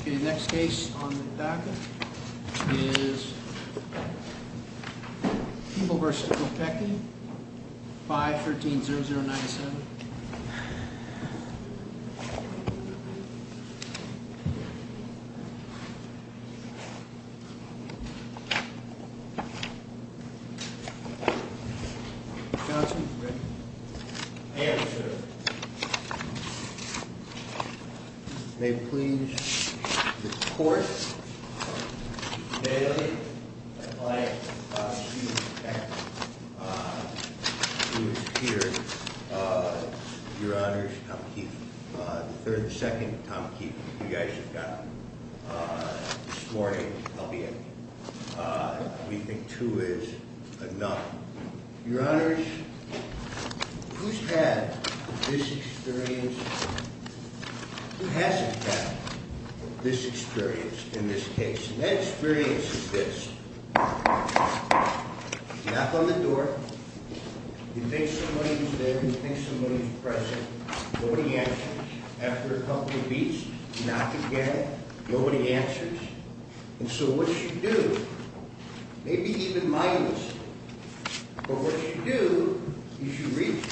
Okay, next case on the packet is Peeble v. Kopecky 5-13-0097 Johnson, ready? I am, sir. May it please the court Bailey v. Kopecky Who is here Your honors, Tom Keith The third and second, Tom Keith You guys have gotten This morning, albeit We think two is enough Your honors Who has had this experience Who hasn't had this experience In this case And that experience is this Knock on the door You think somebody is there You think somebody is present Nobody answers After a couple of beats, knock again Nobody answers And so what you do Maybe even minus But what you do Is you reach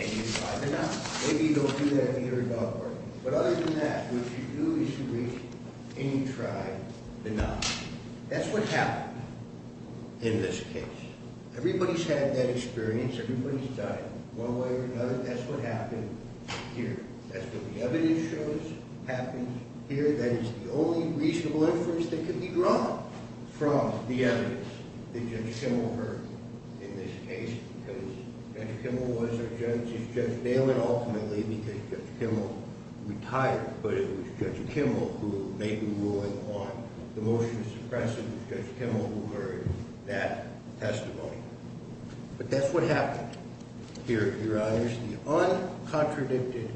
And you try to knock Maybe you don't do that either But other than that, what you do is you reach And you try to knock That's what happened In this case Everybody's had that experience Everybody's died one way or another That's what happened here That's what the evidence shows Happens here That is the only reasonable inference that can be drawn From the evidence That Judge Kimmel heard In this case Because Judge Kimmel was a judge Judge Nalen ultimately Because Judge Kimmel retired But it was Judge Kimmel who made the ruling on The motion to suppress it It was Judge Kimmel who heard that testimony But that's what happened Here, your honors The uncontradicted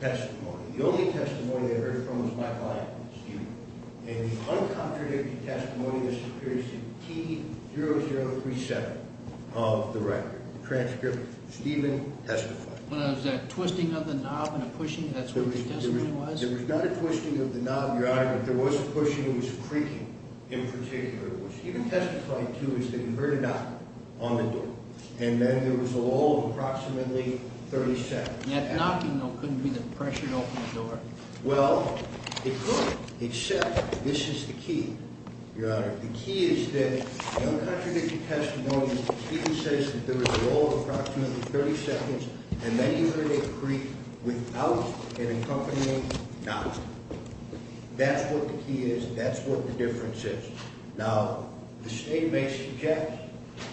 testimony The only testimony I heard from Was my client, Stephen And the uncontradicted testimony This appears to be T-0037 Of the record, transcript Stephen testified Was there a twisting of the knob and a pushing? That's what the testimony was? There was not a twisting of the knob, your honor There was pushing, there was creaking in particular What Stephen testified to is that he heard a knock On the door Thirty seconds That knocking though couldn't be the pressure to open the door Well, it could Except this is the key Your honor, the key is that The uncontradicted testimony Stephen says that there was a roll of Approximately thirty seconds And then he heard a creak without An accompanying knock That's what the key is That's what the difference is Now, the state may suggest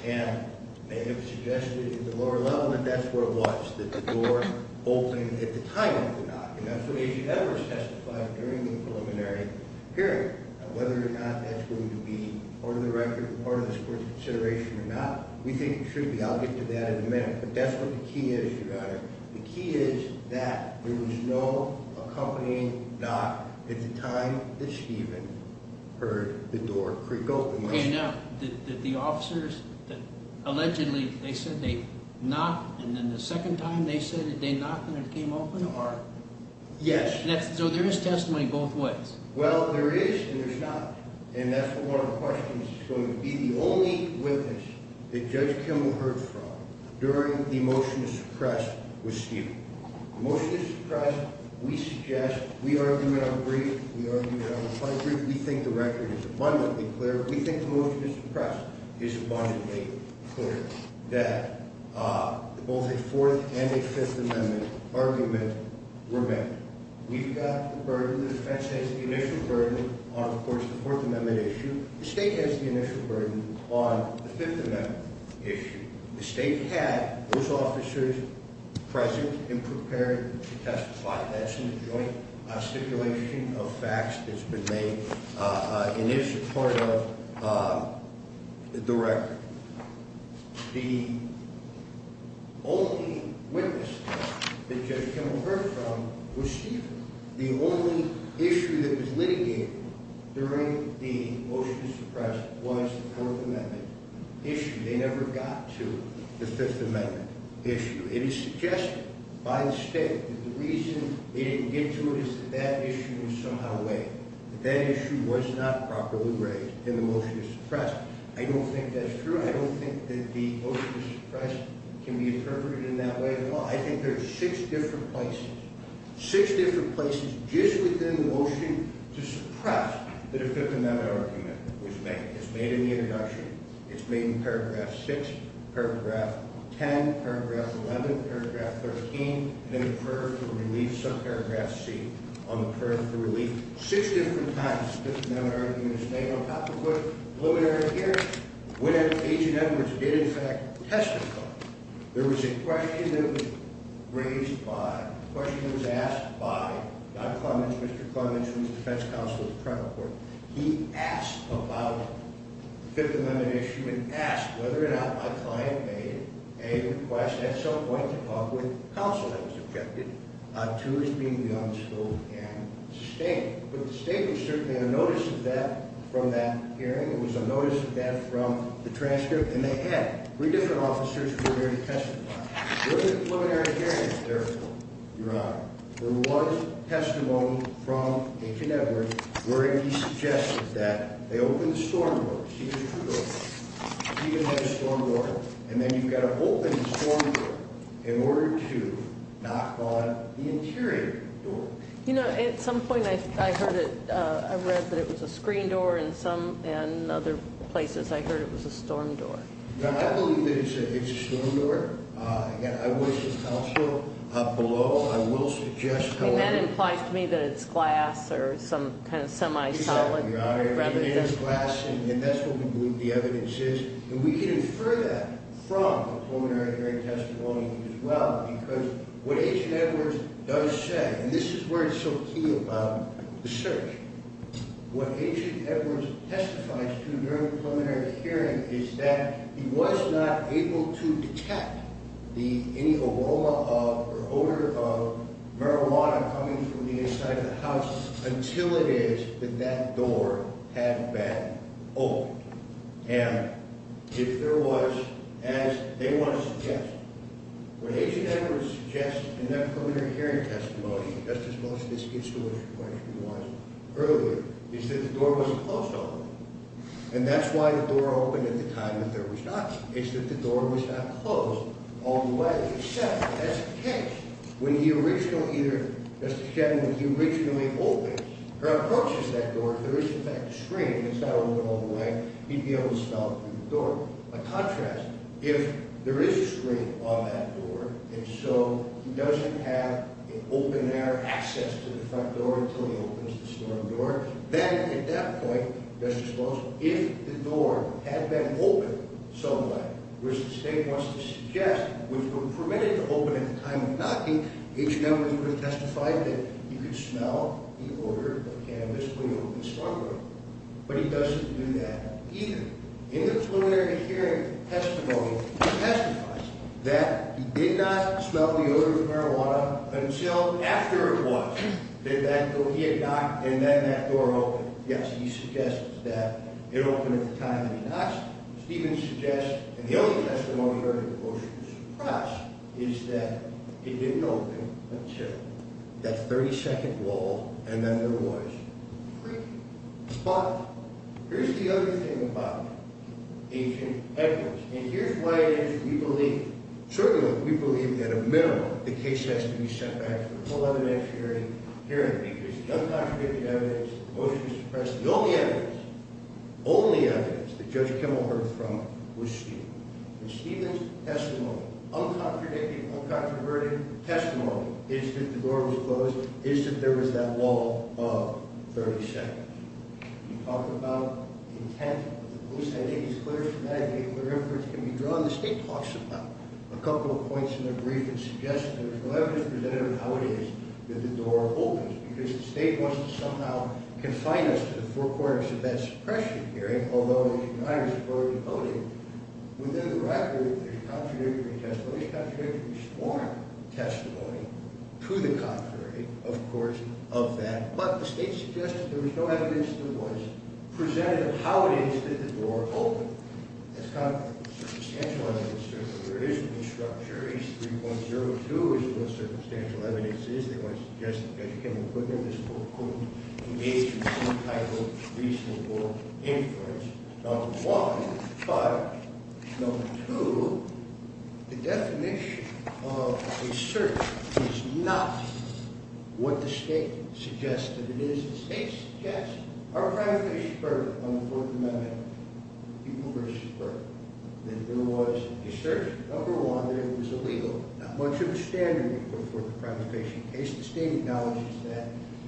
And they have suggested In the lower level that that's where it was That the door opened At the time of the knock As you have testified during the preliminary hearing Whether or not that's going to be Part of the record Part of this court's consideration or not We think it should be, I'll get to that in a minute But that's what the key is, your honor The key is that There was no accompanying knock At the time that Stephen Heard the door creak open Okay, now, did the officers Allegedly They said they knocked And then the second time they said it They knocked and it came open? Yes. So there is testimony both ways Well, there is and there's not And that's one of the questions It's going to be the only witness That Judge Kimmel heard from During the motion to suppress With Stephen The motion to suppress, we suggest We argue it on the brief We think the record is abundantly clear We think the motion to suppress Is abundantly clear That Both a Fourth and a Fifth Amendment Argument were made We've got the burden The defense has the initial burden On, of course, the Fourth Amendment issue The state has the initial burden On the Fifth Amendment issue The state had those officers Present and prepared To testify That's in the joint stipulation of facts That's been made And is part of The record The Only witness That Judge Kimmel heard from Was Stephen The only issue that was litigated During the motion to suppress Was the Fourth Amendment Issue They never got to the Fifth Amendment issue It is suggested By the state That the reason they didn't get to it Is that that issue was somehow weighed That that issue was not properly Raised in the motion to suppress I don't think that's true I don't think that the motion to suppress Can be interpreted in that way I think there are six different places Six different places just within The motion to suppress The Fifth Amendment argument Was made. It's made in the introduction It's made in paragraph six Paragraph ten, paragraph eleven Paragraph thirteen And in the prayer for relief subparagraph C On the prayer for relief Six different times the Fifth Amendment argument Was made on top of the preliminary hearing When Agent Edwards did In fact testify There was a question that was Raised by, a question that was asked By Don Clements, Mr. Clements Who was the defense counsel at the trial court He asked about The Fifth Amendment issue And asked whether or not my client made A request at some point To talk with counsel that was objected To as being the unspoken Statement, but the statement Certainly had a notice of that from that Hearing, it was a notice of that from The transcript, and they had Three different officers who were there to testify There was a preliminary hearing Therefore, your honor, there was Testimony from Agent Edwards Where he suggested That they open the storm door See there's two doors He didn't have a storm door And then you've got to open the storm door In order to knock on The interior door You know, at some point I heard it I read that it was a screen door In some, and other places I heard it was a storm door I believe that it's a storm door And I was the counsel Below, I will suggest That implies to me that it's glass Or some kind of semi-solid Your honor, it is glass And that's what we believe the evidence is And we can infer that from The preliminary hearing testimony as well Because what Agent Edwards Does say, and this is where it's so Key about the search What Agent Edwards Testifies to during the preliminary Hearing is that he was not Able to detect The, any aroma of Or odor of marijuana Coming from the inside of the house Until it is that that door Had been opened And If there was As they want to suggest What Agent Edwards suggests In their preliminary hearing testimony Just as most of this institution questioned Was earlier, is that the door Wasn't closed all the way And that's why the door opened at the time that there was not Is that the door was not closed All the way, except That's the case, when the original Either, Justice Cheney, when he Originally opens, or approaches That door, if there is in fact a screen That's not open all the way He'd be able to smell through the door By contrast, if there is a screen On that door, and so He doesn't have an open air Access to the front door Until he opens the storm door Then at that point, Justice Brooks If the door had been opened Some way, which the state Wants to suggest, which would permit It to open at the time of knocking Agent Edwards would have testified that He could smell the odor of cannabis If he opened the storm door But he doesn't do that either In the preliminary hearing testimony He testifies that He did not smell the odor of marijuana Until after it was That he had knocked And then that door opened Yes, he suggests that it opened At the time that he knocked Stevens suggests, and the only testimony I heard of the motion to suppress Is that it didn't open Until that 32nd wall And then there was A freaky spot Here's the other thing about Agent Edwards And here's why it is we believe Certainly we believe that a minimum The case has to be set back To the preliminary hearing Because the uncontradicted evidence The motion to suppress, the only evidence The only evidence that Judge Kimmel heard from Was Stevens And Stevens' testimony Uncontradicted, uncontroverted testimony Is that the door was closed Is that there was that wall Of 32nd You talk about the intent of the police I think it's clear from that The state talks about A couple of points in their brief And suggests that there's no evidence presented on how it is That the door opens Because the state wants to somehow confine us To the four corners of that suppression hearing Although the igniters have already voted Within the record There's contradictory testimony There's contradictory sworn testimony To the contrary Of course, of that But the state suggested there was no evidence That was presented on how it is That the door opened It's kind of a circumstantial evidence There is no structure H3.02 is what the circumstantial evidence is They want to suggest that Judge Kimmel Put in this quote, quote The agency title reasonable Inference Number one Number five Number two The definition of a search Is not What the state suggests that it is The state suggests Our crime is superb on the Fourth Amendment People were superb That there was a search Number one, that it was illegal Not much of a standard to put forth a crime of phishing In case the state acknowledges that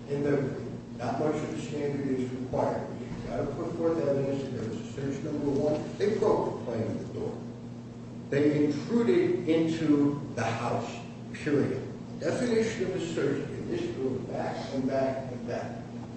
In their brief Not much of a standard is required You've got to put forth evidence That there was a search, number one They broke the plan of the door They intruded into the house Period The definition of a search In this group, back and back and back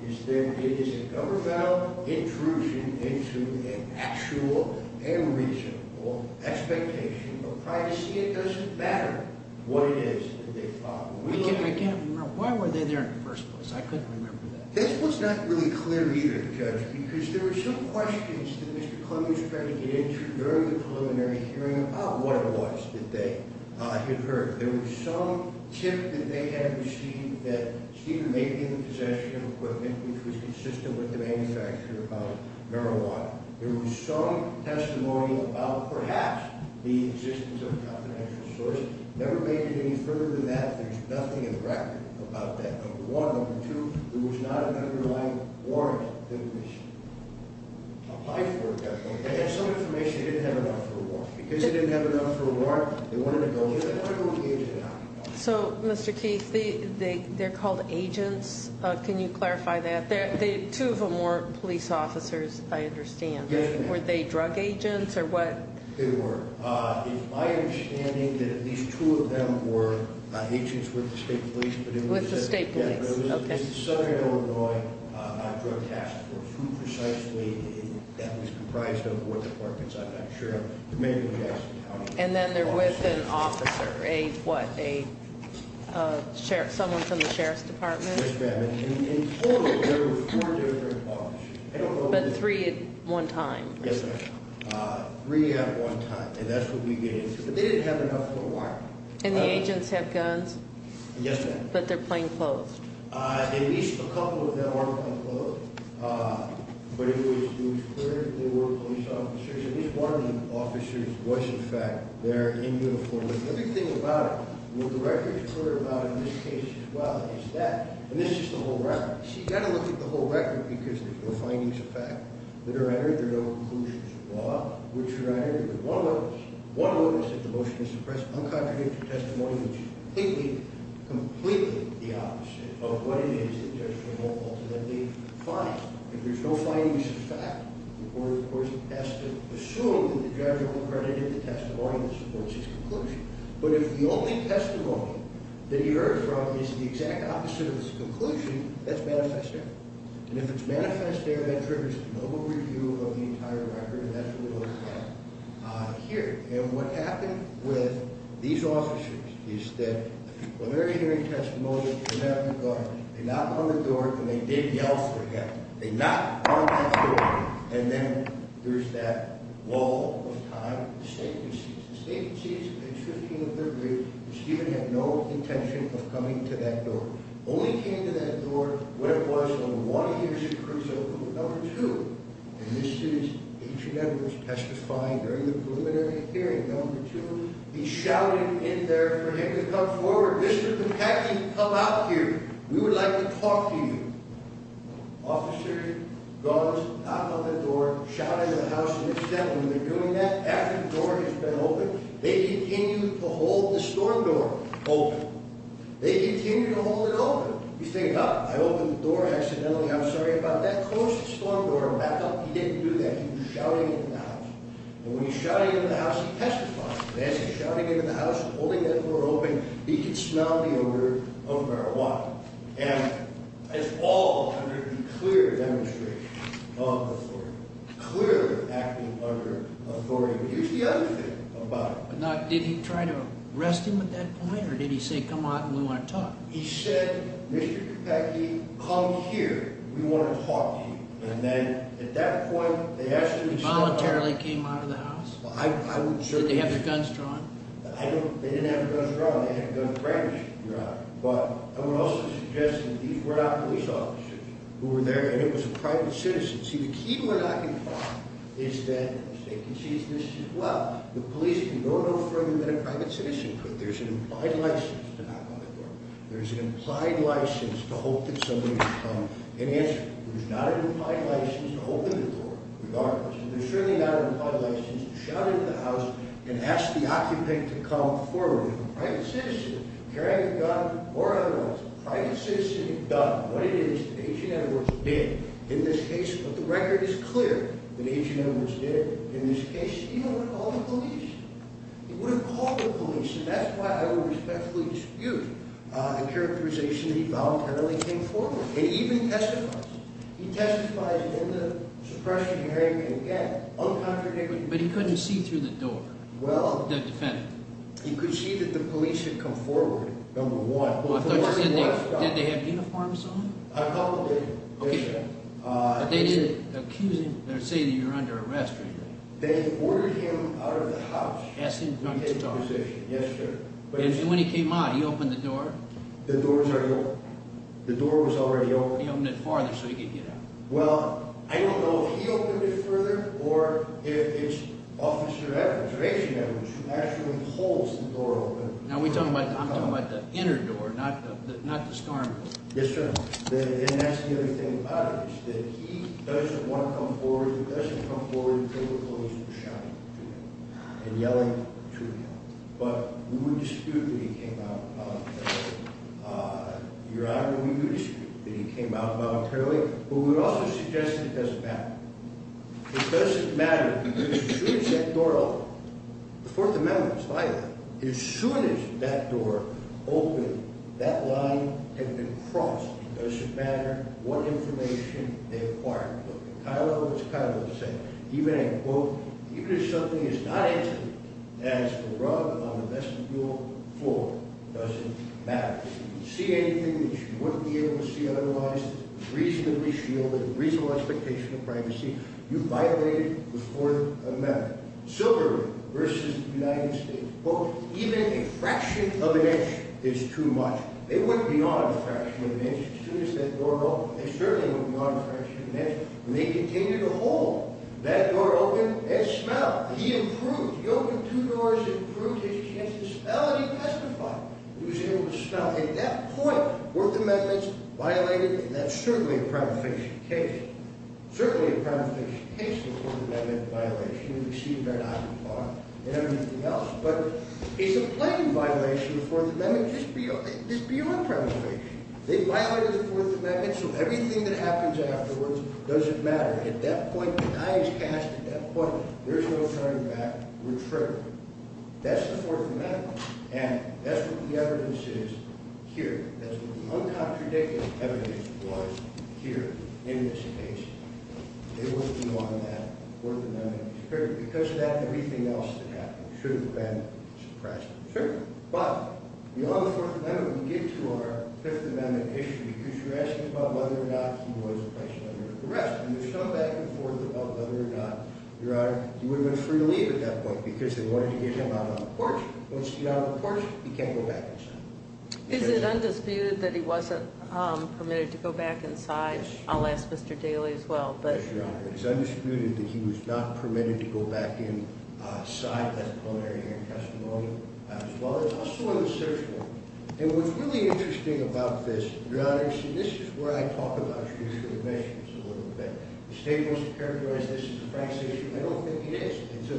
Is that it is a governmental intrusion Into an actual And reasonable Expectation of privacy It doesn't matter what it is That they fought I can't remember, why were they there in the first place? I couldn't remember that This was not really clear either, Judge Because there were some questions that Mr. Clemmons Tried to get into during the preliminary hearing About what it was that they Had heard There was some tip that they had received That Stephen may be in possession of equipment Which was consistent with the manufacture Of marijuana There was some testimony About perhaps the existence Of a confidential source Never made it any further than that There's nothing in the record about that Number one, number two There was not an underlying warrant For this Some information they didn't have enough for a warrant Because they didn't have enough for a warrant They wanted to go They wanted to go to the agent So Mr. Keith, they're called agents Can you clarify that? Two of them weren't police officers I understand Were they drug agents or what? They were It's my understanding That at least two of them were Agents with the state police With the state police Southern Illinois Drug Task Force Who precisely That was comprised of I'm not sure And then they're with an officer A what? Someone from the Sheriff's Department Yes ma'am There were four different officers But three at one time Yes ma'am Three at one time And that's what we get into But they didn't have enough for a warrant And the agents have guns? Yes ma'am But they're plainclothed At least a couple of them are plainclothed But it was clear they were police officers At least one of the officers was in fact There in uniform The other thing about it What the record is clear about in this case as well Is that, and this is the whole record So you've got to look at the whole record Because there's no findings of fact that are entered There are no conclusions of law Which are entered There's one notice that the motion is suppressed Uncontradictory testimony Which is completely, completely the opposite Of what it is the judge can ultimately Find If there's no findings of fact The court of course has to assume That the judge will have credited the testimony That supports his conclusion But if the only testimony that he heard from Is the exact opposite of his conclusion That's manifest there And if it's manifest there that triggers A global review of the entire record And that's what we look at here And what happened with these officers Is that When they're hearing testimony They knock on the door And they didn't yell for help They knock on that door And then there's that wall of time The state receives The state receives at 15th of February And Stephen had no intention Of coming to that door Only came to that door when it was On one of the years that Cruz opened Number 2 And this is H&M was testifying During the preliminary hearing Number 2, he shouted in there For him to come forward Mr. Patney come out here We would like to talk to you Officers Knock on the door Shout in the house And when they're doing that After the door has been opened They continue to hold the storm door open They continue to hold it open You stand up I open the door accidentally I'm sorry about that Close the storm door Back up, he didn't do that He was shouting in the house And when he was shouting in the house He testified He was shouting in the house Holding that door open He could smell the odor Of marijuana And it's all under The clear demonstration of authority Clear acting under authority Here's the other thing About it Did he try to arrest him at that point Or did he say come out and we want to talk He said Mr. Patney come here We want to talk to you And then at that point He voluntarily came out of the house Did they have their guns drawn They didn't have their guns drawn They had a gun fragment But I would also suggest That these were not police officers Who were there and it was a private citizen See the key to an occupant Is that The police do no further than a private citizen There's an implied license To knock on the door There's an implied license to hope that somebody Would come and answer There's not an implied license to open the door Regardless There's certainly not an implied license To shout into the house and ask the occupant To come forward A private citizen carrying a gun Or otherwise a private citizen What it is that Agent Edwards did In this case But the record is clear that Agent Edwards did In this case he would have called the police He would have called the police And that's why I would respectfully dispute The characterization That he voluntarily came forward He even testifies He testifies in the suppression He can get But he couldn't see through the door The defendant He could see that the police had come forward Number one Did they have uniforms on? A couple did But they didn't accuse him Or say that you were under arrest They ordered him out of the house Asked him to come to the door And when he came out he opened the door The door was already open Why would he open it farther so he could get out? Well I don't know if he opened it further Or if it's Officer Edwards or Agent Edwards Who actually holds the door open Now I'm talking about the inner door Not the storm door Yes sir And that's the other thing about it Is that he doesn't want to come forward He doesn't come forward to the police Shouting to him and yelling to him But we would dispute that he came out Your Honor We dispute that he came out voluntarily But we would also suggest that it doesn't matter It doesn't matter Because as soon as that door opened The Fourth Amendment was violated As soon as that door Opened That line had been crossed It doesn't matter what information They acquired Kylo was Kylo's son Even if something is not intimate As a rug on the vestibule floor It doesn't matter If you see anything that you wouldn't be able to see Otherwise reasonably shielded Reasonable expectation of privacy You violated the Fourth Amendment Silver versus The United States Even a fraction of an inch is too much They wouldn't be on a fraction of an inch As soon as that door opened They certainly wouldn't be on a fraction of an inch And they continue to hold That door open and smell He improved, he opened two doors He improved, he changed his smell And he testified He was able to smell At that point, Fourth Amendment's violated And that's certainly a prima facie case Certainly a prima facie case The Fourth Amendment violation Received by Dr. Clark and everything else But it's a plain violation of the Fourth Amendment Just beyond prima facie So everything that happens afterwards Doesn't matter At that point, the die is cast At that point, there's no turning back We're triggered That's the Fourth Amendment And that's what the evidence is here That's what the uncontradictory evidence was Here in this case It was beyond that Fourth Amendment Because of that, everything else that happened Should have been suppressed But beyond the Fourth Amendment We get to our Fifth Amendment issue Because you're asking about whether or not He was placed under arrest And you've come back and forth about whether or not Your Honor, he would have been free to leave At that point because they wanted to get him out on the porch Once he got out on the porch He can't go back inside Is it undisputed that he wasn't permitted To go back inside? I'll ask Mr. Daley as well It's undisputed that he was not permitted To go back inside That preliminary hearing testimony As well as also in the search warrant And what's really interesting about this Your Honor, this is where I talk about The issue of admissions a little bit The state wants to characterize this as a Frank's issue I don't think it is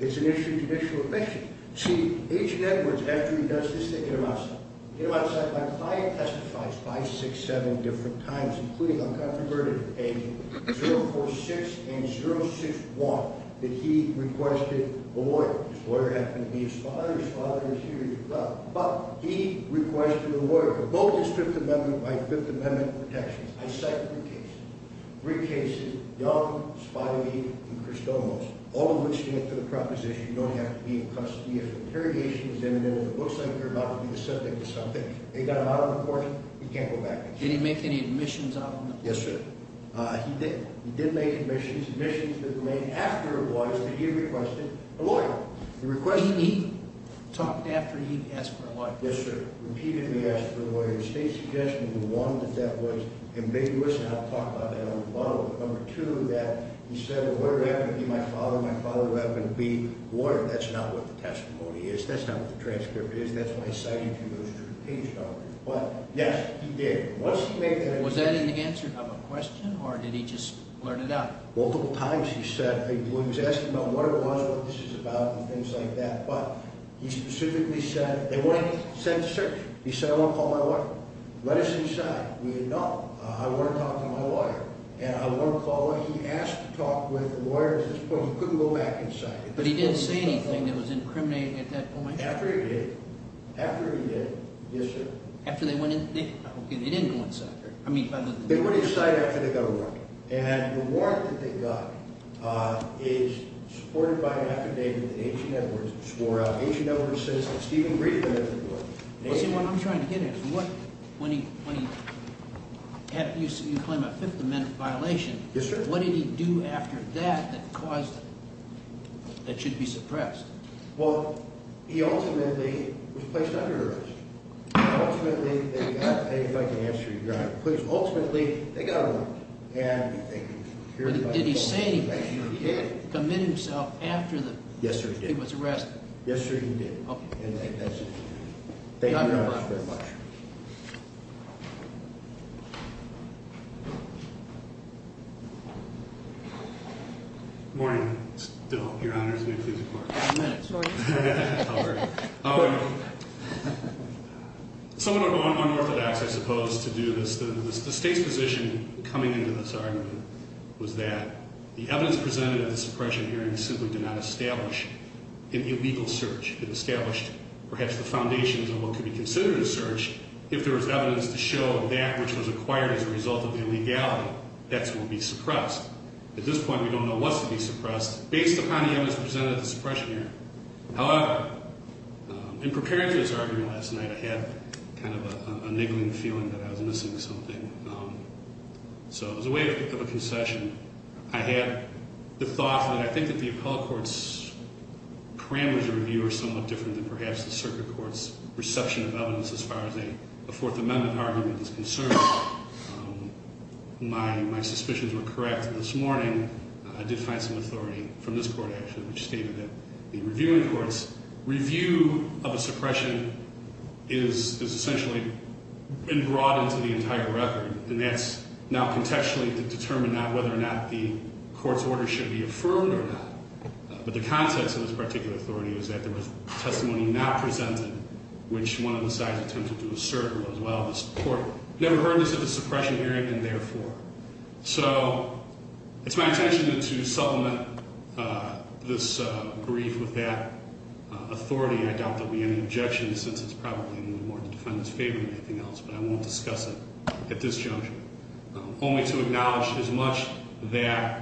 It's an issue of judicial admissions See, Agent Edwards, after he does this They get him outside They get him outside by five testifies Five, six, seven different times Including uncontroverted opinion 046 and 061 His lawyer happened to be his father His father is here But he requested a lawyer For both his Fifth Amendment By Fifth Amendment protections I cite three cases Young, Spivey, and Christomos All of which stand to the proposition You don't have to be in custody If interrogation is imminent And it looks like you're about to be the subject of something They got him out on the porch He can't go back inside Did he make any admissions on him? Yes sir, he did He did make admissions Admissions that remained after it was He requested a lawyer He talked after he asked for a lawyer Yes sir, he repeatedly asked for a lawyer The state suggested One, that that was ambiguous And I'll talk about that in a little bit Number two, that he said The lawyer would have to be my father My father would have to be a lawyer That's not what the testimony is That's not what the transcript is That's why I cited you those two cases But yes, he did Was that an answer of a question Or did he just blurt it out? Multiple times he said He was asking about what it was, what this is about And things like that But he specifically said He said I want to call my lawyer Let us inside No, I want to talk to my lawyer And I want to call He asked to talk with the lawyer He couldn't go back inside But he didn't say anything that was incriminating at that point? After he did Yes sir After they went inside Okay, they didn't go inside They went inside after they got a warrant And the warrant that they got Is supported by an affidavit That H.E. Edwards swore out H.E. Edwards says that Stephen Green What I'm trying to get at When he You claim a Fifth Amendment violation Yes sir What did he do after that That should be suppressed Well, he ultimately Was placed under arrest And ultimately They got a warrant And Did he say He committed himself after He was arrested Yes sir, he did Thank you very much Good morning Your Honor Excuse me, please How are you How are you Someone unorthodox I suppose To do this The state's position coming into this argument Was that the evidence presented At the suppression hearing simply did not establish An illegal search It established perhaps the foundations Of what could be considered a search If there was evidence to show that which was acquired As a result of the illegality That will be suppressed At this point we don't know what's to be suppressed Based upon the evidence presented at the suppression hearing However In preparing for this argument last night I had kind of a niggling feeling That I was missing something So as a way of a concession I had The thought that I think that the appellate court's Parameters of review Are somewhat different than perhaps the circuit court's Reception of evidence as far as a Fourth Amendment argument is concerned My Suspicions were correct this morning I did find some authority from this Court actually which stated that the Review of a suppression Is Essentially been brought Into the entire record and that's Now contextually determined not whether Or not the court's order should be Affirmed or not but the context Of this particular authority is that there was Testimony not presented which One of the sides attempted to assert While this court never heard this at the suppression Hearing and therefore So it's my intention to Supplement This brief with that Authority and I doubt there will be any objections Since it's probably more in the defendant's Favor than anything else but I won't discuss it At this juncture Only to acknowledge as much that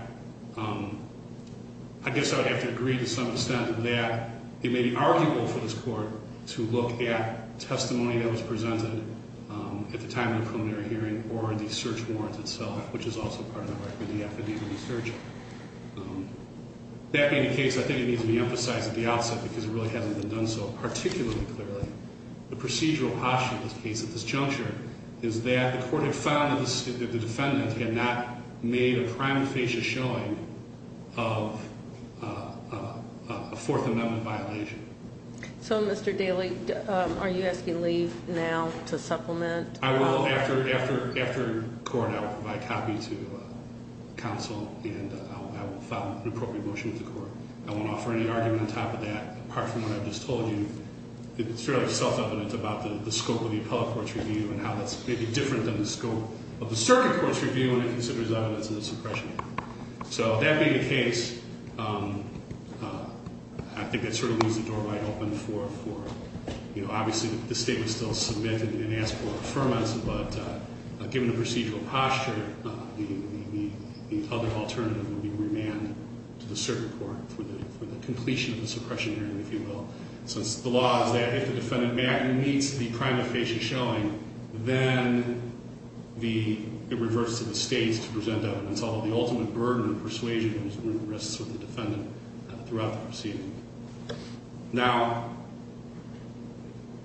I guess I would have to agree to some extent That it may be arguable for this Court to look at Testimony that was presented At the time of the preliminary hearing Or the search warrant itself Which is also part of the record That being the case I think it needs to be emphasized At the outset because it really hasn't been done so Particularly clearly The procedural posture of this case at this juncture Is that the court had found That the defendant had not made A prime facious showing Of A Fourth Amendment violation So Mr. Daly Are you asking leave now To supplement I will after court I will provide copy to Council and I will Follow the appropriate motion of the court I won't offer any argument on top of that Apart from what I just told you It's fairly self-evident about the scope of the Appellate Court's review and how that's maybe different When it considers evidence of the suppression So that being the case I think that sort of Leaves the door wide open for You know obviously the state Would still submit and ask for Affirmance but given the procedural Posture The other alternative would be remand To the circuit court for the Completion of the suppression hearing if you will Since the law is that If the defendant meets the prime facious showing Then It reverts to the state To present evidence although the ultimate burden Of persuasion risks with the defendant Throughout the proceeding Now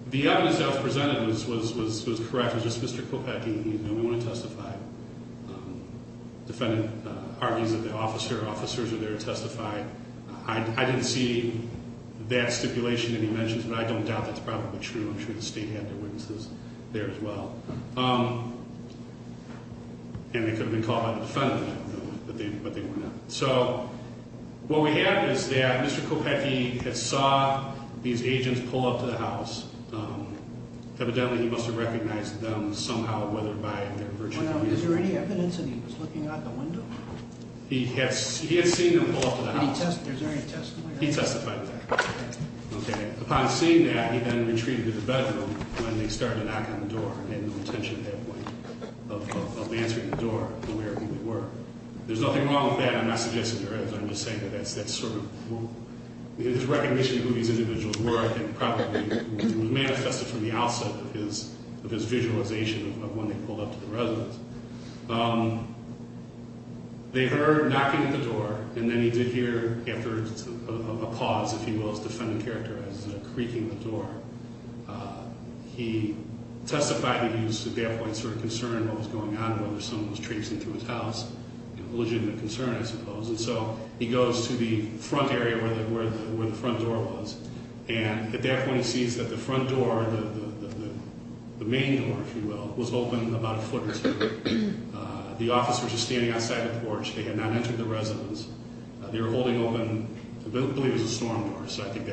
The evidence that was presented Was correct It was just Mr. Kopecki He's the only one to testify Defendant argues that the officers Are there to testify I didn't see that stipulation That he mentions but I don't doubt that's probably true I'm sure the state had their witnesses There as well Um And they could have been called by the defendant But they were not So what we have is that Mr. Kopecki had saw These agents pull up to the house Evidently he must have Recognized them somehow whether by Is there any evidence that he was Looking out the window He had seen them pull up to the house He testified that Upon seeing that He then retreated to the bedroom When they started to knock on the door He had no intention at that point Of answering the door There's nothing wrong with that I'm not suggesting there is I'm just saying that His recognition of who these individuals were Was manifested from the outset Of his visualization Of when they pulled up to the residence Um They heard knocking at the door And then he did hear A pause if you will That I suppose the defendant characterized As creaking the door He testified That he was at that point sort of concerned About what was going on Whether someone was traipsing through his house Illegitimate concern I suppose And so he goes to the front area Where the front door was And at that point he sees that the front door The main door if you will Was open about a foot or two The officers were standing outside the porch They had not entered the residence They were holding open I believe it was a storm door I think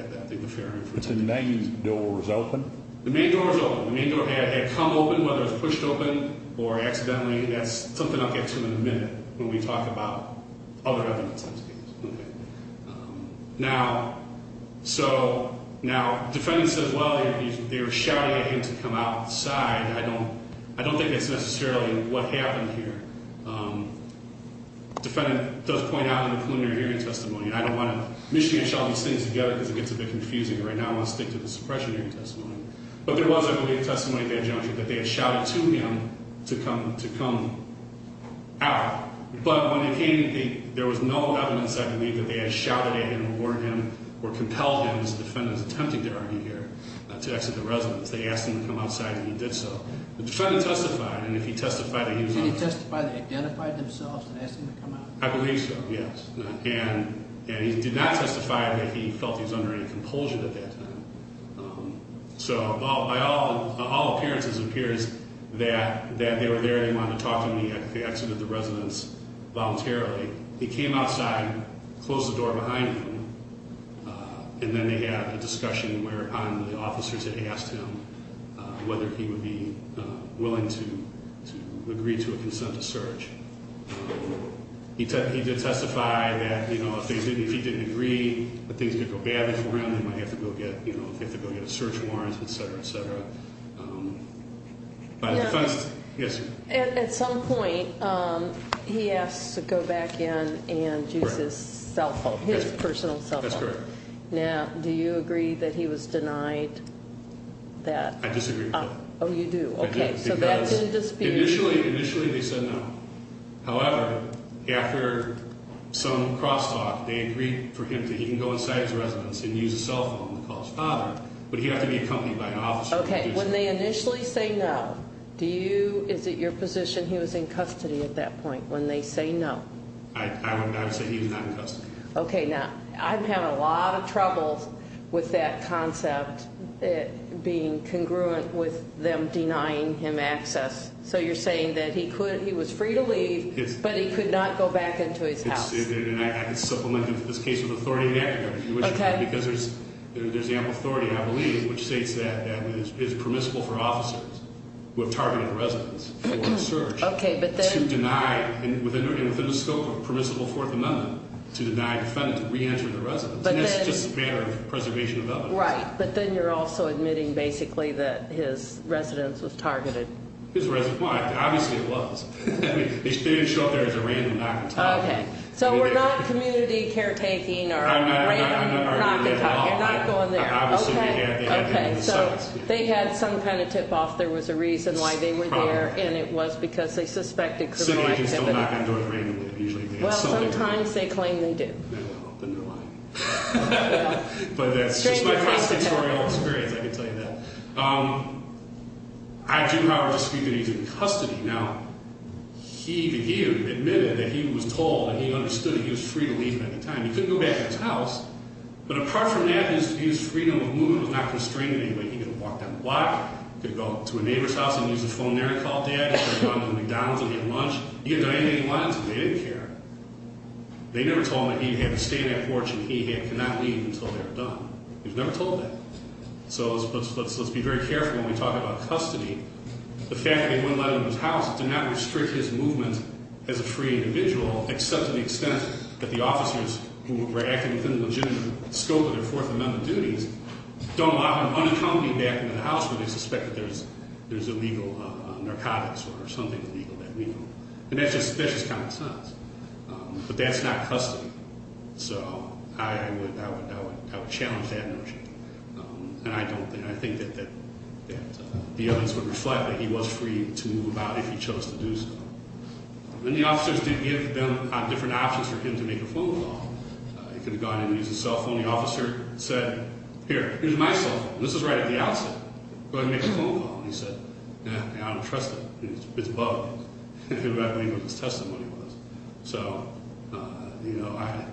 the fair information The main door was open The main door had come open whether it was pushed open Or accidentally That's something I'll get to in a minute When we talk about other evidence Now So Now the defendant says well They were shouting at him to come outside I don't think that's necessarily What happened here The defendant does point out In the preliminary hearing testimony And I don't want to mishash all these things together Because it gets a bit confusing And right now I want to stick to the suppression hearing testimony But there was I believe testimony That they had shouted to him to come Out But when they came There was no evidence I believe Or compelled him As the defendant was attempting to argue here To exit the residence They asked him to come outside and he did so The defendant testified Did he testify they identified themselves And asked him to come out? I believe so yes And he did not testify that he felt he was under any compulsion At that time So By all appearances It appears that they were there They wanted to talk to me At the exit of the residence voluntarily He came outside Closed the door behind him And then they had a discussion On the officers that asked him Whether he would be Willing to Agree to a consent to search He did testify That you know If he didn't agree That things could go badly for him They might have to go get a search warrant Etc etc Yes At some point He asked to go back in And use his cell phone His personal cell phone Now do you agree that he was denied That I disagree Oh you do Initially they said no However after Some cross talk They agreed for him to go inside his residence And use a cell phone to call his father But he had to be accompanied by an officer When they initially say no Is it your position he was in custody at that point When they say no I would say he was not in custody Okay now I've had a lot of trouble With that concept Being congruent With them denying him access So you're saying that he could He was free to leave But he could not go back into his house It's supplemented in this case With authority Because there's ample authority I believe Which states that it's permissible for officers Who have targeted residents For a search To deny within the scope of Permissible Fourth Amendment To deny a defendant to re-enter the residence And that's just a matter of preservation of evidence But then you're also admitting basically That his residence was targeted His residence, well obviously it was They didn't show up there as a random Knock and talk So we're not community care taking Or a random knock and talk You're not going there So they had some kind of tip off There was a reason why they were there And it was because they suspected criminal activity Well sometimes they claim they do Well then they're lying But that's just my personal Experience I can tell you that I do however Disagree that he's in custody Now he admitted That he was told and he understood That he was free to leave at the time He couldn't go back into his house But apart from that his freedom of movement Was not constrained in any way He could have walked down the block He could have gone to a neighbor's house And used his phone there to call dad He could have gone to McDonald's to get lunch He could have done anything he wanted to They didn't care They never told him that he had to stay on that porch And he could not leave until they were done He was never told that So let's be very careful when we talk about custody The fact that he wouldn't let him in his house Did not restrict his movement as a free individual Except to the extent that the officers Who were acting within the legitimate scope Of their Fourth Amendment duties Don't allow him unaccompanied back into the house When they suspect that there's Illegal narcotics or something illegal And that's just Common sense But that's not custody So I would challenge that notion And I don't And I think that The evidence would reflect that he was free To move about if he chose to do so And the officers did give them Different options for him to make a phone call He could have gone in and used his cell phone And the officer said Here, here's my cell phone, this is right at the outset Go ahead and make a phone call And he said, I don't trust it, it's bugged He could have outlined what his testimony was So You know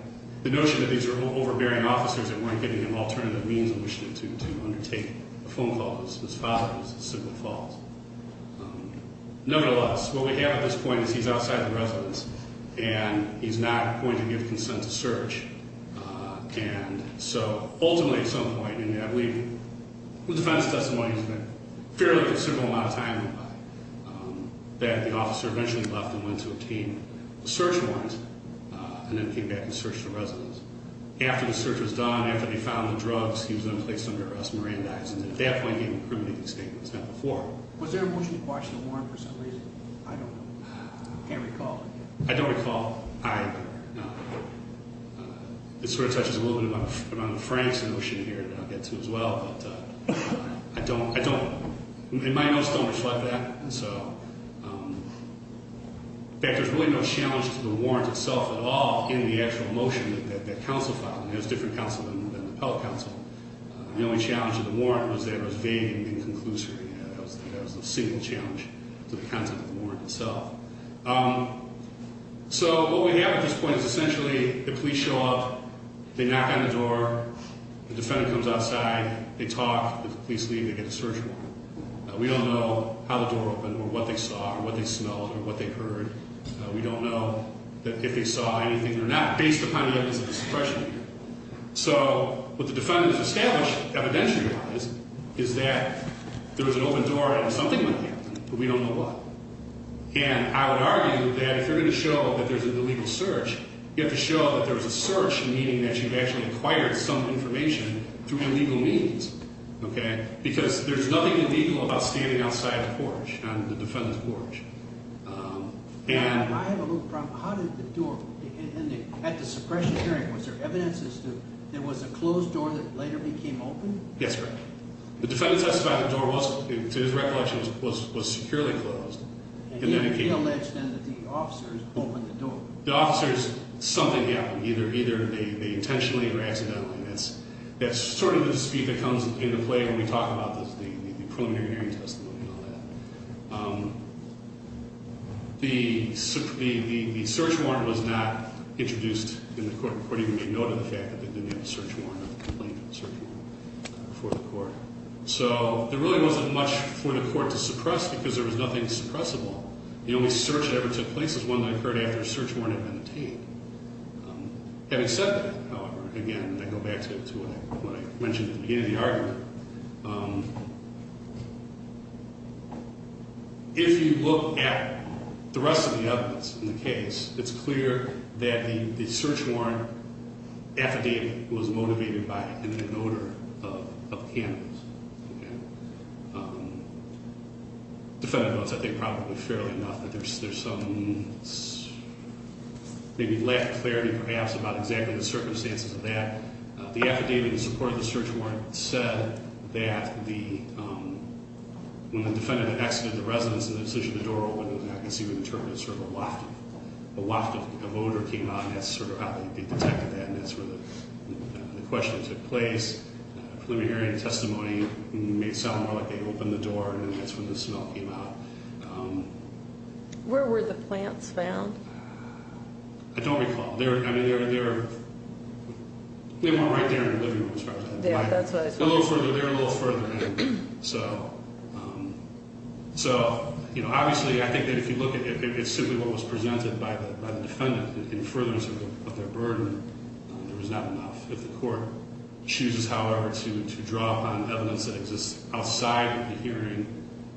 The notion that these were overbearing officers That weren't giving him alternative means In which to undertake a phone call Was his father's simple fault Nevertheless, what we have at this point Is he's outside the residence And he's not going to give consent to search And so Ultimately at some point In that week The defense testimony Fairly considerable amount of time That the officer eventually left And went to obtain the search warrant And then came back and searched the residence After the search was done After they found the drugs He was then placed under arrest And at that point I don't recall any incriminating statements Was there a motion to quash the warrant for some reason? I don't know I can't recall I don't recall This sort of touches a little bit on Frank's notion here That I'll get to as well But I don't My notes don't reflect that In fact, there's really no challenge To the warrant itself at all In the actual motion That counsel filed It was different counsel than the appellate counsel The only challenge to the warrant Was that it was vague and inconclusive That was the single challenge To the content of the warrant itself So what we have At this point is essentially The police show up, they knock on the door The defendant comes outside They talk, the police leave, they get the search warrant We don't know How the door opened or what they saw Or what they smelled or what they heard We don't know if they saw anything We don't know if they smelled anything or not Based upon the evidence of discretion So what the defendant has established Evidentially is that There was an open door and something went in But we don't know what And I would argue that If you're going to show that there's an illegal search You have to show that there was a search Meaning that you've actually acquired some information Through illegal means Because there's nothing illegal About standing outside the porch On the defendant's porch I have a little problem How did the door At the suppression hearing Was there evidence as to There was a closed door that later became open? Yes, correct The defendant testified the door was To his recollection was securely closed And he alleged then that the officers opened the door The officers, something happened Either they intentionally or accidentally That's sort of the dispute That comes into play when we talk about The preliminary hearing testimony And all that The search warrant was not Introduced in the court report Even made note of the fact that they didn't have a search warrant Or the complaint of a search warrant Before the court So there really wasn't much for the court to suppress Because there was nothing suppressible The only search that ever took place Is one that occurred after a search warrant had been obtained Having said that, however Again, I go back to what I mentioned At the beginning of the argument If you look at The rest of the evidence In the case, it's clear that The search warrant affidavit Was motivated by an Imminent odor of Cannabis Defendant votes I think probably fairly enough There's some Maybe lack of clarity perhaps About exactly the circumstances of that The affidavit in support of the search warrant Said that the When the defendant Exited the residence and the decision The door opened, I can see what the term is Sort of a loft of odor came out And that's sort of how they detected that And that's where the question took place Preliminary hearing testimony Made it sound more like they opened the door And that's when the smell came out Where were the plants found? I don't recall They were They weren't right there in the living room They were a little further in So So Obviously I think that if you look It's simply what was presented by the defendant In furtherance of their burden There was not enough If the court chooses however To draw upon evidence that exists Outside of the hearing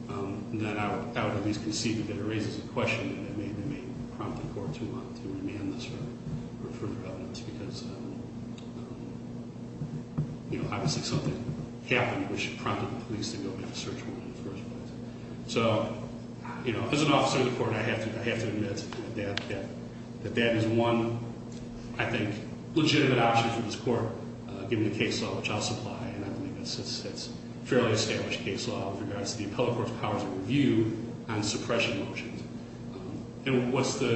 Then I would at least concede That it raises a question That may prompt the court to want to Demand this further evidence Because Obviously something Happened which prompted the police To go make a search warrant in the first place So as an officer of the court I have to admit That that is one I think legitimate option For this court given the case law Which I'll supply It's a fairly established case law With regards to the appellate court's powers of review On suppression motions And what's sort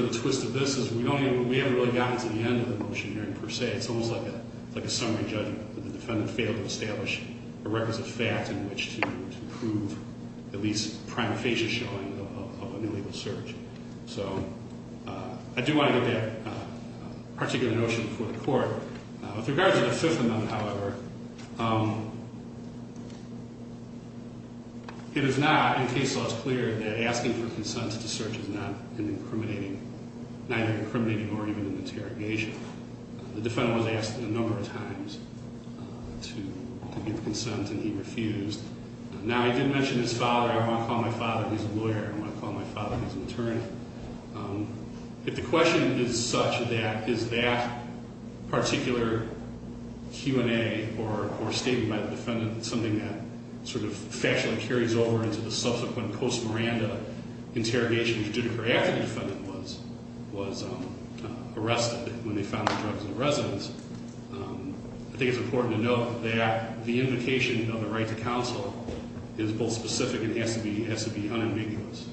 of the twist of this Is we haven't really gotten to the end Of the motion here per se It's almost like a summary judgment That the defendant failed to establish The requisite facts in which to prove At least prima facie showing Of an illegal search So I do want to get that particular notion Before the court With regards to the fifth amendment however It is not In case law It's clear that asking for consent To search is not Neither incriminating or even An interrogation The defendant was asked a number of times To give consent And he refused Now I did mention his father I won't call my father, he's a lawyer I won't call my father, he's an attorney If the question is such that Is that particular Q&A Or statement by the defendant Something that sort of factually carries over Into the subsequent post Miranda Interrogation The defendant was Arrested when they found the drugs In the residence I think it's important to note that The invocation of the right to counsel Is both specific and has to be Unambiguous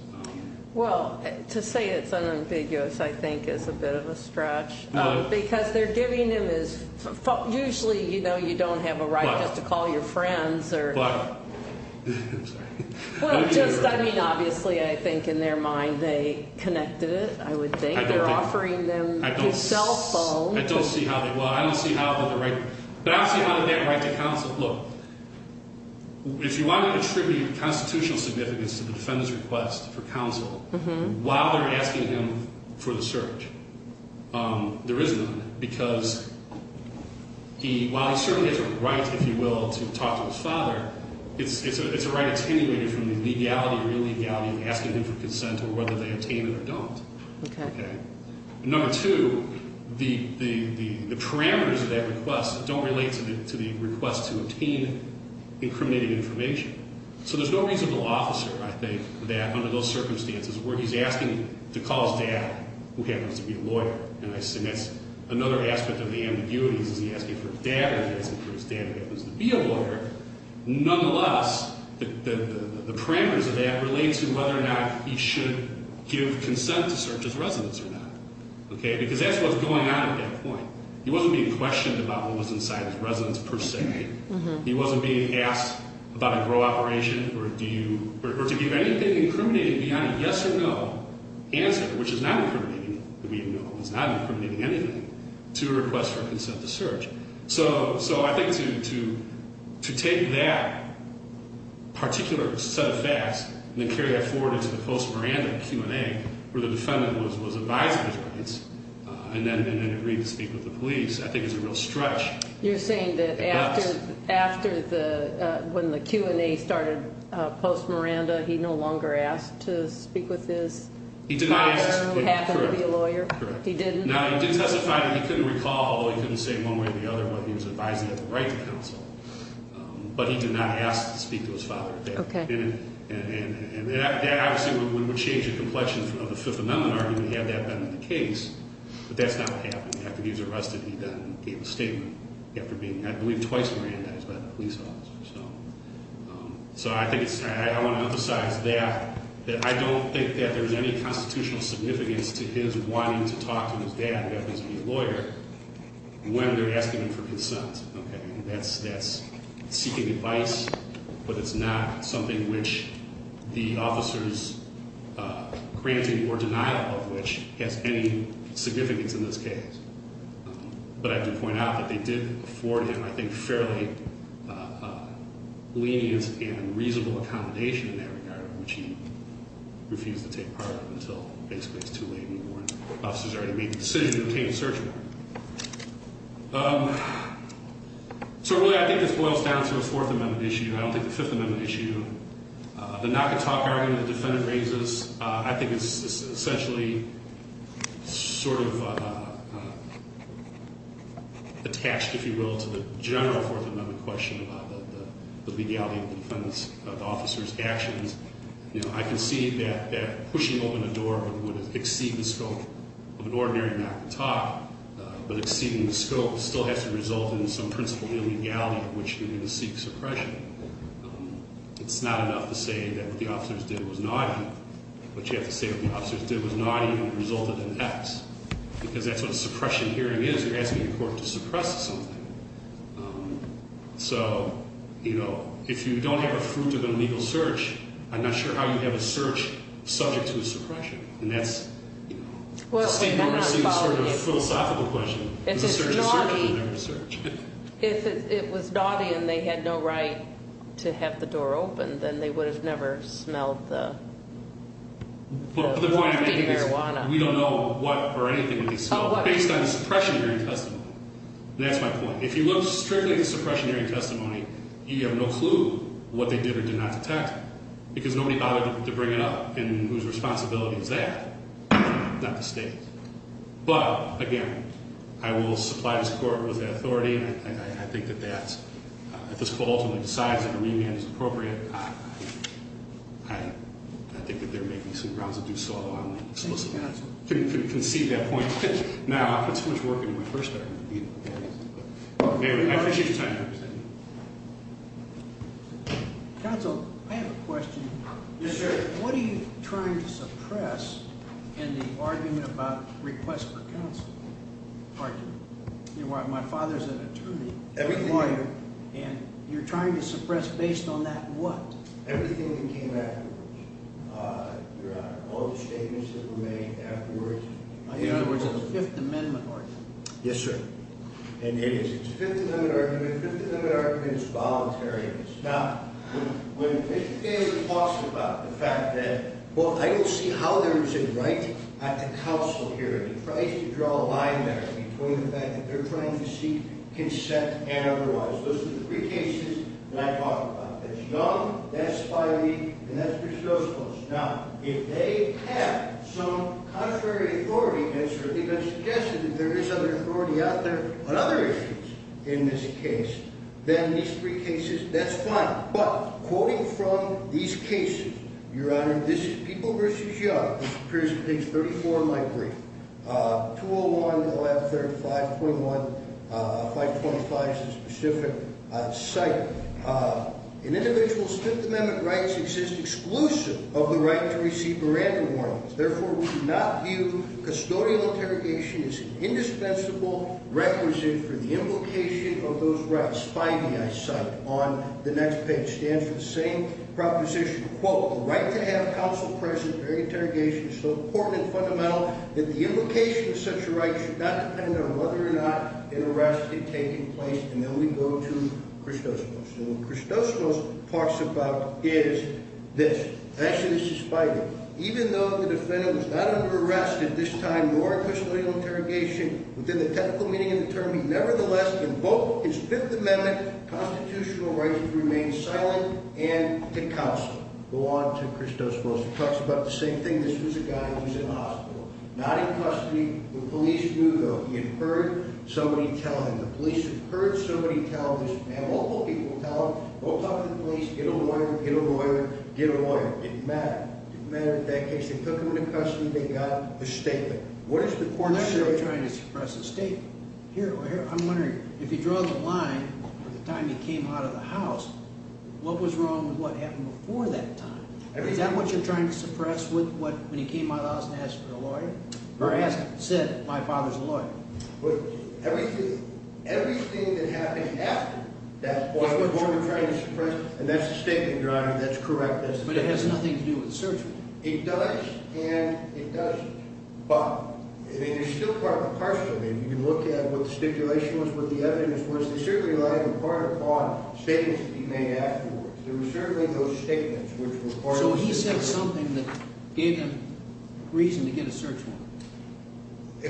Well to say it's unambiguous I think is a bit of a stretch Because they're giving them Usually you know you don't have A right just to call your friends But Just I mean obviously I think in their mind they Connected it I would think They're offering them his cell phone I don't see how they But obviously how did that right to counsel Look If you want to attribute constitutional significance To the defendant's request for counsel While they're asking him For the search There is none because While he certainly has a right If you will to talk to his father It's a right attenuated from The legality or illegality of asking him For consent or whether they obtain it or don't Number two The Parameters of that request don't relate To the request to obtain Incriminating information So there's no reasonable officer I think That under those circumstances where he's asking To call his dad Who happens to be a lawyer And that's another aspect of the ambiguities He's asking for his dad Who happens to be a lawyer Nonetheless The parameters of that relate to whether or not He should give consent To search his residence or not Because that's what's going on at that point He wasn't being questioned about what was inside His residence per se He wasn't being asked about a grow operation Or do you Or to give anything incriminating beyond a yes or no Answer which is not incriminating We know it's not incriminating anything To request for consent to search So I think to Take that Particular set of facts And then carry that forward into the post-Miranda Q&A where the defendant Was advising his rights And then agreed to speak with the police I think is a real stretch You're saying that after When the Q&A started Post-Miranda he no longer Asked to speak with his Father who happened to be a lawyer He didn't He couldn't recall He was advising of the right to counsel But he did not ask to speak To his father And that obviously would change The complexion of the Fifth Amendment argument Had that been the case But that's not what happened After he was arrested He gave a statement I believe twice Miranda So I want to emphasize that I don't think that there's any Constitutional significance to his Wanting to talk to his dad who happens to be a lawyer When they're asking him For consent That's seeking advice But it's not something which The officer's Granting or denial of Which has any significance In this case But I do point out that they did afford him I think fairly Lenient and reasonable Accommodation in that regard Which he refused to take part of Until basically it's too late And the officers already made the decision To obtain a search warrant So really I think this boils down to a Fourth Amendment issue I don't think the Fifth Amendment issue The knock and talk argument the defendant raises I think is essentially Sort of Attached if you will To the general Fourth Amendment question About the legality of the Officer's actions I can see that pushing open a door Would exceed the scope Of an ordinary knock and talk But exceeding the scope still has to result In some principle of illegality Of which you're going to seek suppression It's not enough to say That what the officers did was naughty But you have to say what the officers did was naughty And resulted in X Because that's what a suppression hearing is They're asking the court to suppress something So You know If you don't have a fruit of an illegal search I'm not sure how you'd have a search Subject to a suppression And that's A philosophical question If it was naughty And they had no right To have the door open Then they would have never smelled the Marijuana We don't know what or anything Based on the suppression hearing testimony That's my point If you look strictly at the suppression hearing testimony You have no clue What they did or did not detect Because nobody bothered to bring it up And whose responsibility is that Not the state But again I will supply this court with that authority And I think that that If this court ultimately decides that a remand is appropriate I think that they're making some grounds to do so On the solicitation To concede that point Now I put so much work into my first argument I appreciate your time Counsel, I have a question What are you trying to suppress In the argument about Request for counsel Pardon me My father's an attorney And you're trying to suppress Based on that what? Everything that came afterwards All the statements that were made Afterwards In other words it's a fifth amendment argument Yes sir And it is It's a fifth amendment argument And it's voluntary Now when David talks about the fact that Well I don't see how there is a right At counsel hearing He tries to draw a line there Between the fact that they're trying to seek consent And otherwise Those are the three cases that I talk about That's Young, that's Filey And that's Briscoe's case Now if they have some Contrary authority And it's certainly been suggested that there is other authority out there On other issues In this case Then these three cases, that's fine But quoting from these cases Your honor, this is people versus Young This appears on page 34 of my brief 201, 113, 521 525 is a specific Site In individual's Fifth amendment rights exist exclusive Of the right to receive Miranda warnings Therefore we do not view Custodial interrogation as an Indispensable requisite for the Invocation of those rights Filey I cite on the next page Stands for the same proposition Quote, the right to have counsel present During interrogation is so important And fundamental that the invocation of such A right should not depend on whether or not An arrest is taking place And then we go to Christos Rost And what Christos Rost talks about Is this Actually this is Filey Even though the defendant was not under arrest at this time Nor in custodial interrogation Within the technical meaning of the term He nevertheless invoked his fifth amendment Constitutional rights to remain silent And to counsel Go on to Christos Rost He talks about the same thing, this was a guy who was in the hospital Not in custody The police knew though, he had heard Somebody tell him, the police have heard Somebody tell this man, local people Tell him, go talk to the police, get a lawyer Get a lawyer, get a lawyer It didn't matter, it didn't matter in that case They took him into custody, they got a statement What does the court say I'm not really trying to suppress a statement I'm wondering, if you draw the line From the time he came out of the house What was wrong with what happened before that time Is that what you're trying to suppress When he came out of the house and asked for a lawyer Or said, my father's a lawyer Everything Everything that happened after That's what you're trying to suppress And that's the statement your honor, that's correct But it has nothing to do with the search warrant It does, and it doesn't But You're still part and parcel of it You look at what the stipulation was, what the evidence was They certainly relied in part upon Statements that he made afterwards There were certainly those statements So he said something that gave him Reason to get a search warrant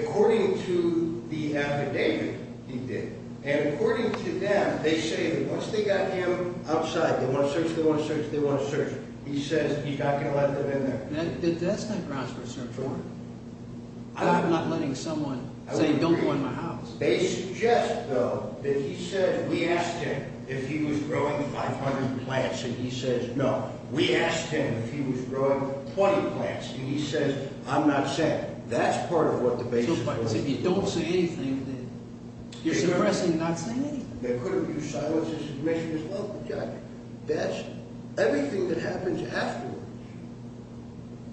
According to The affidavit He did, and according to them They say that once they got him Outside, they want to search, they want to search He says he's not going to let them in there That's not grounds for a search warrant I'm not letting someone Say don't go in my house They suggest though That he said, we asked him If he was growing 500 plants And he says no, we asked him If he was growing 20 plants And he says, I'm not saying That's part of what the basis was So if you don't say anything You're suppressing not saying anything They could have used silences, submissions That's everything That happens afterwards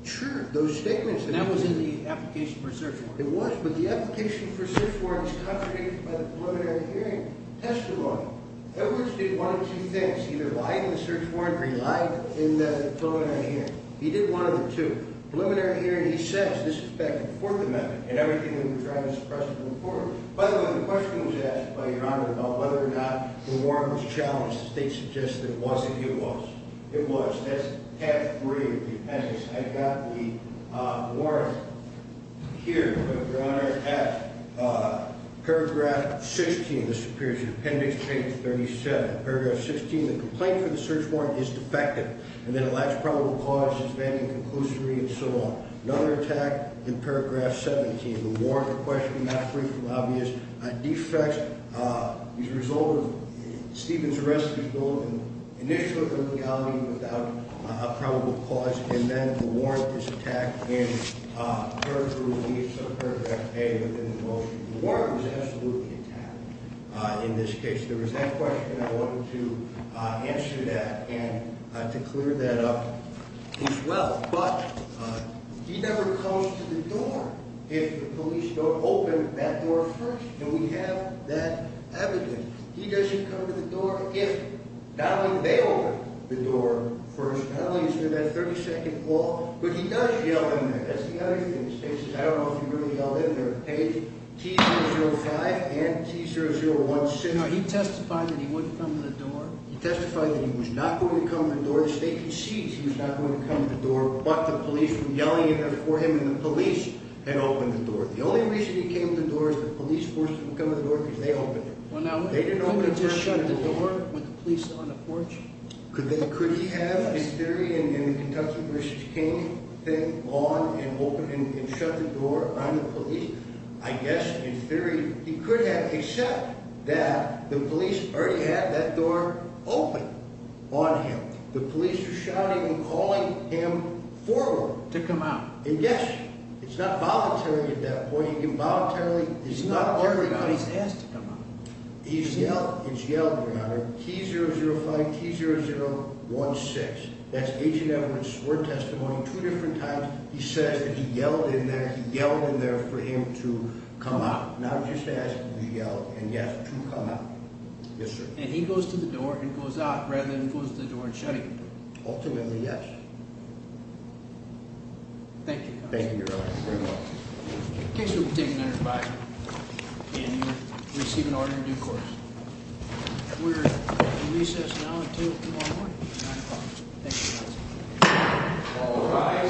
True, those statements And that was in the application for a search warrant It was, but the application for a search warrant Is contradicted by the preliminary hearing Testimony Edwards did one of two things, either lied in the search warrant Or he lied in the preliminary hearing He did one of the two Preliminary hearing, he says, this is back to the Fourth Amendment And everything we were trying to suppress By the way, the question was asked By your honor about whether or not The warrant was challenged The state suggested it wasn't, it was It was, that's tab 3 of the appendix I've got the warrant Here Your honor, at paragraph 16, this appears in appendix Page 37, paragraph 16 The complaint for the search warrant is defective And that it lacks probable cause Suspending conclusory and so on Another attack in paragraph 17 The warrant, the question, not free from obvious Defects As a result of Stevens arrest Initial illegality Without a probable cause And then the warrant is attacked In paragraph release Of paragraph A The warrant was absolutely attacked In this case, there was that question And I wanted to answer that And to clear that up As well, but He never comes to the door If the police don't open That door first And we have that evidence He doesn't come to the door if Not only they open the door First, not only is there that 32nd wall But he does yell in there That's the other thing, the state says I don't know if he really yelled in there Page T-005 and T-001 No, he testified that he wouldn't come to the door He testified that he was not going to Come to the door, the state concedes He was not going to come to the door But the police were yelling in there for him And the police had opened the door The only reason he came to the door Is the police forced him to come to the door Because they opened it Could he just shut the door With the police on the porch Could he have in theory In Kentucky v. King Shut the door on the police I guess in theory He could have, except that The police already had that door Open on him The police were shouting and calling Him forward And yes, it's not Voluntary at that point It's not voluntary He's yelled in there T-005 T-0016 That's Agent Evans' sworn testimony Two different times he says that he yelled He yelled in there for him to Come out Now just ask him to yell and he has to come out Yes sir And he goes to the door and goes out Rather than close the door and shut it Ultimately yes Thank you In case you were taken under Advisory and you were Receiving an order in due course We are in recess now Until tomorrow morning at 9 o'clock Thank you guys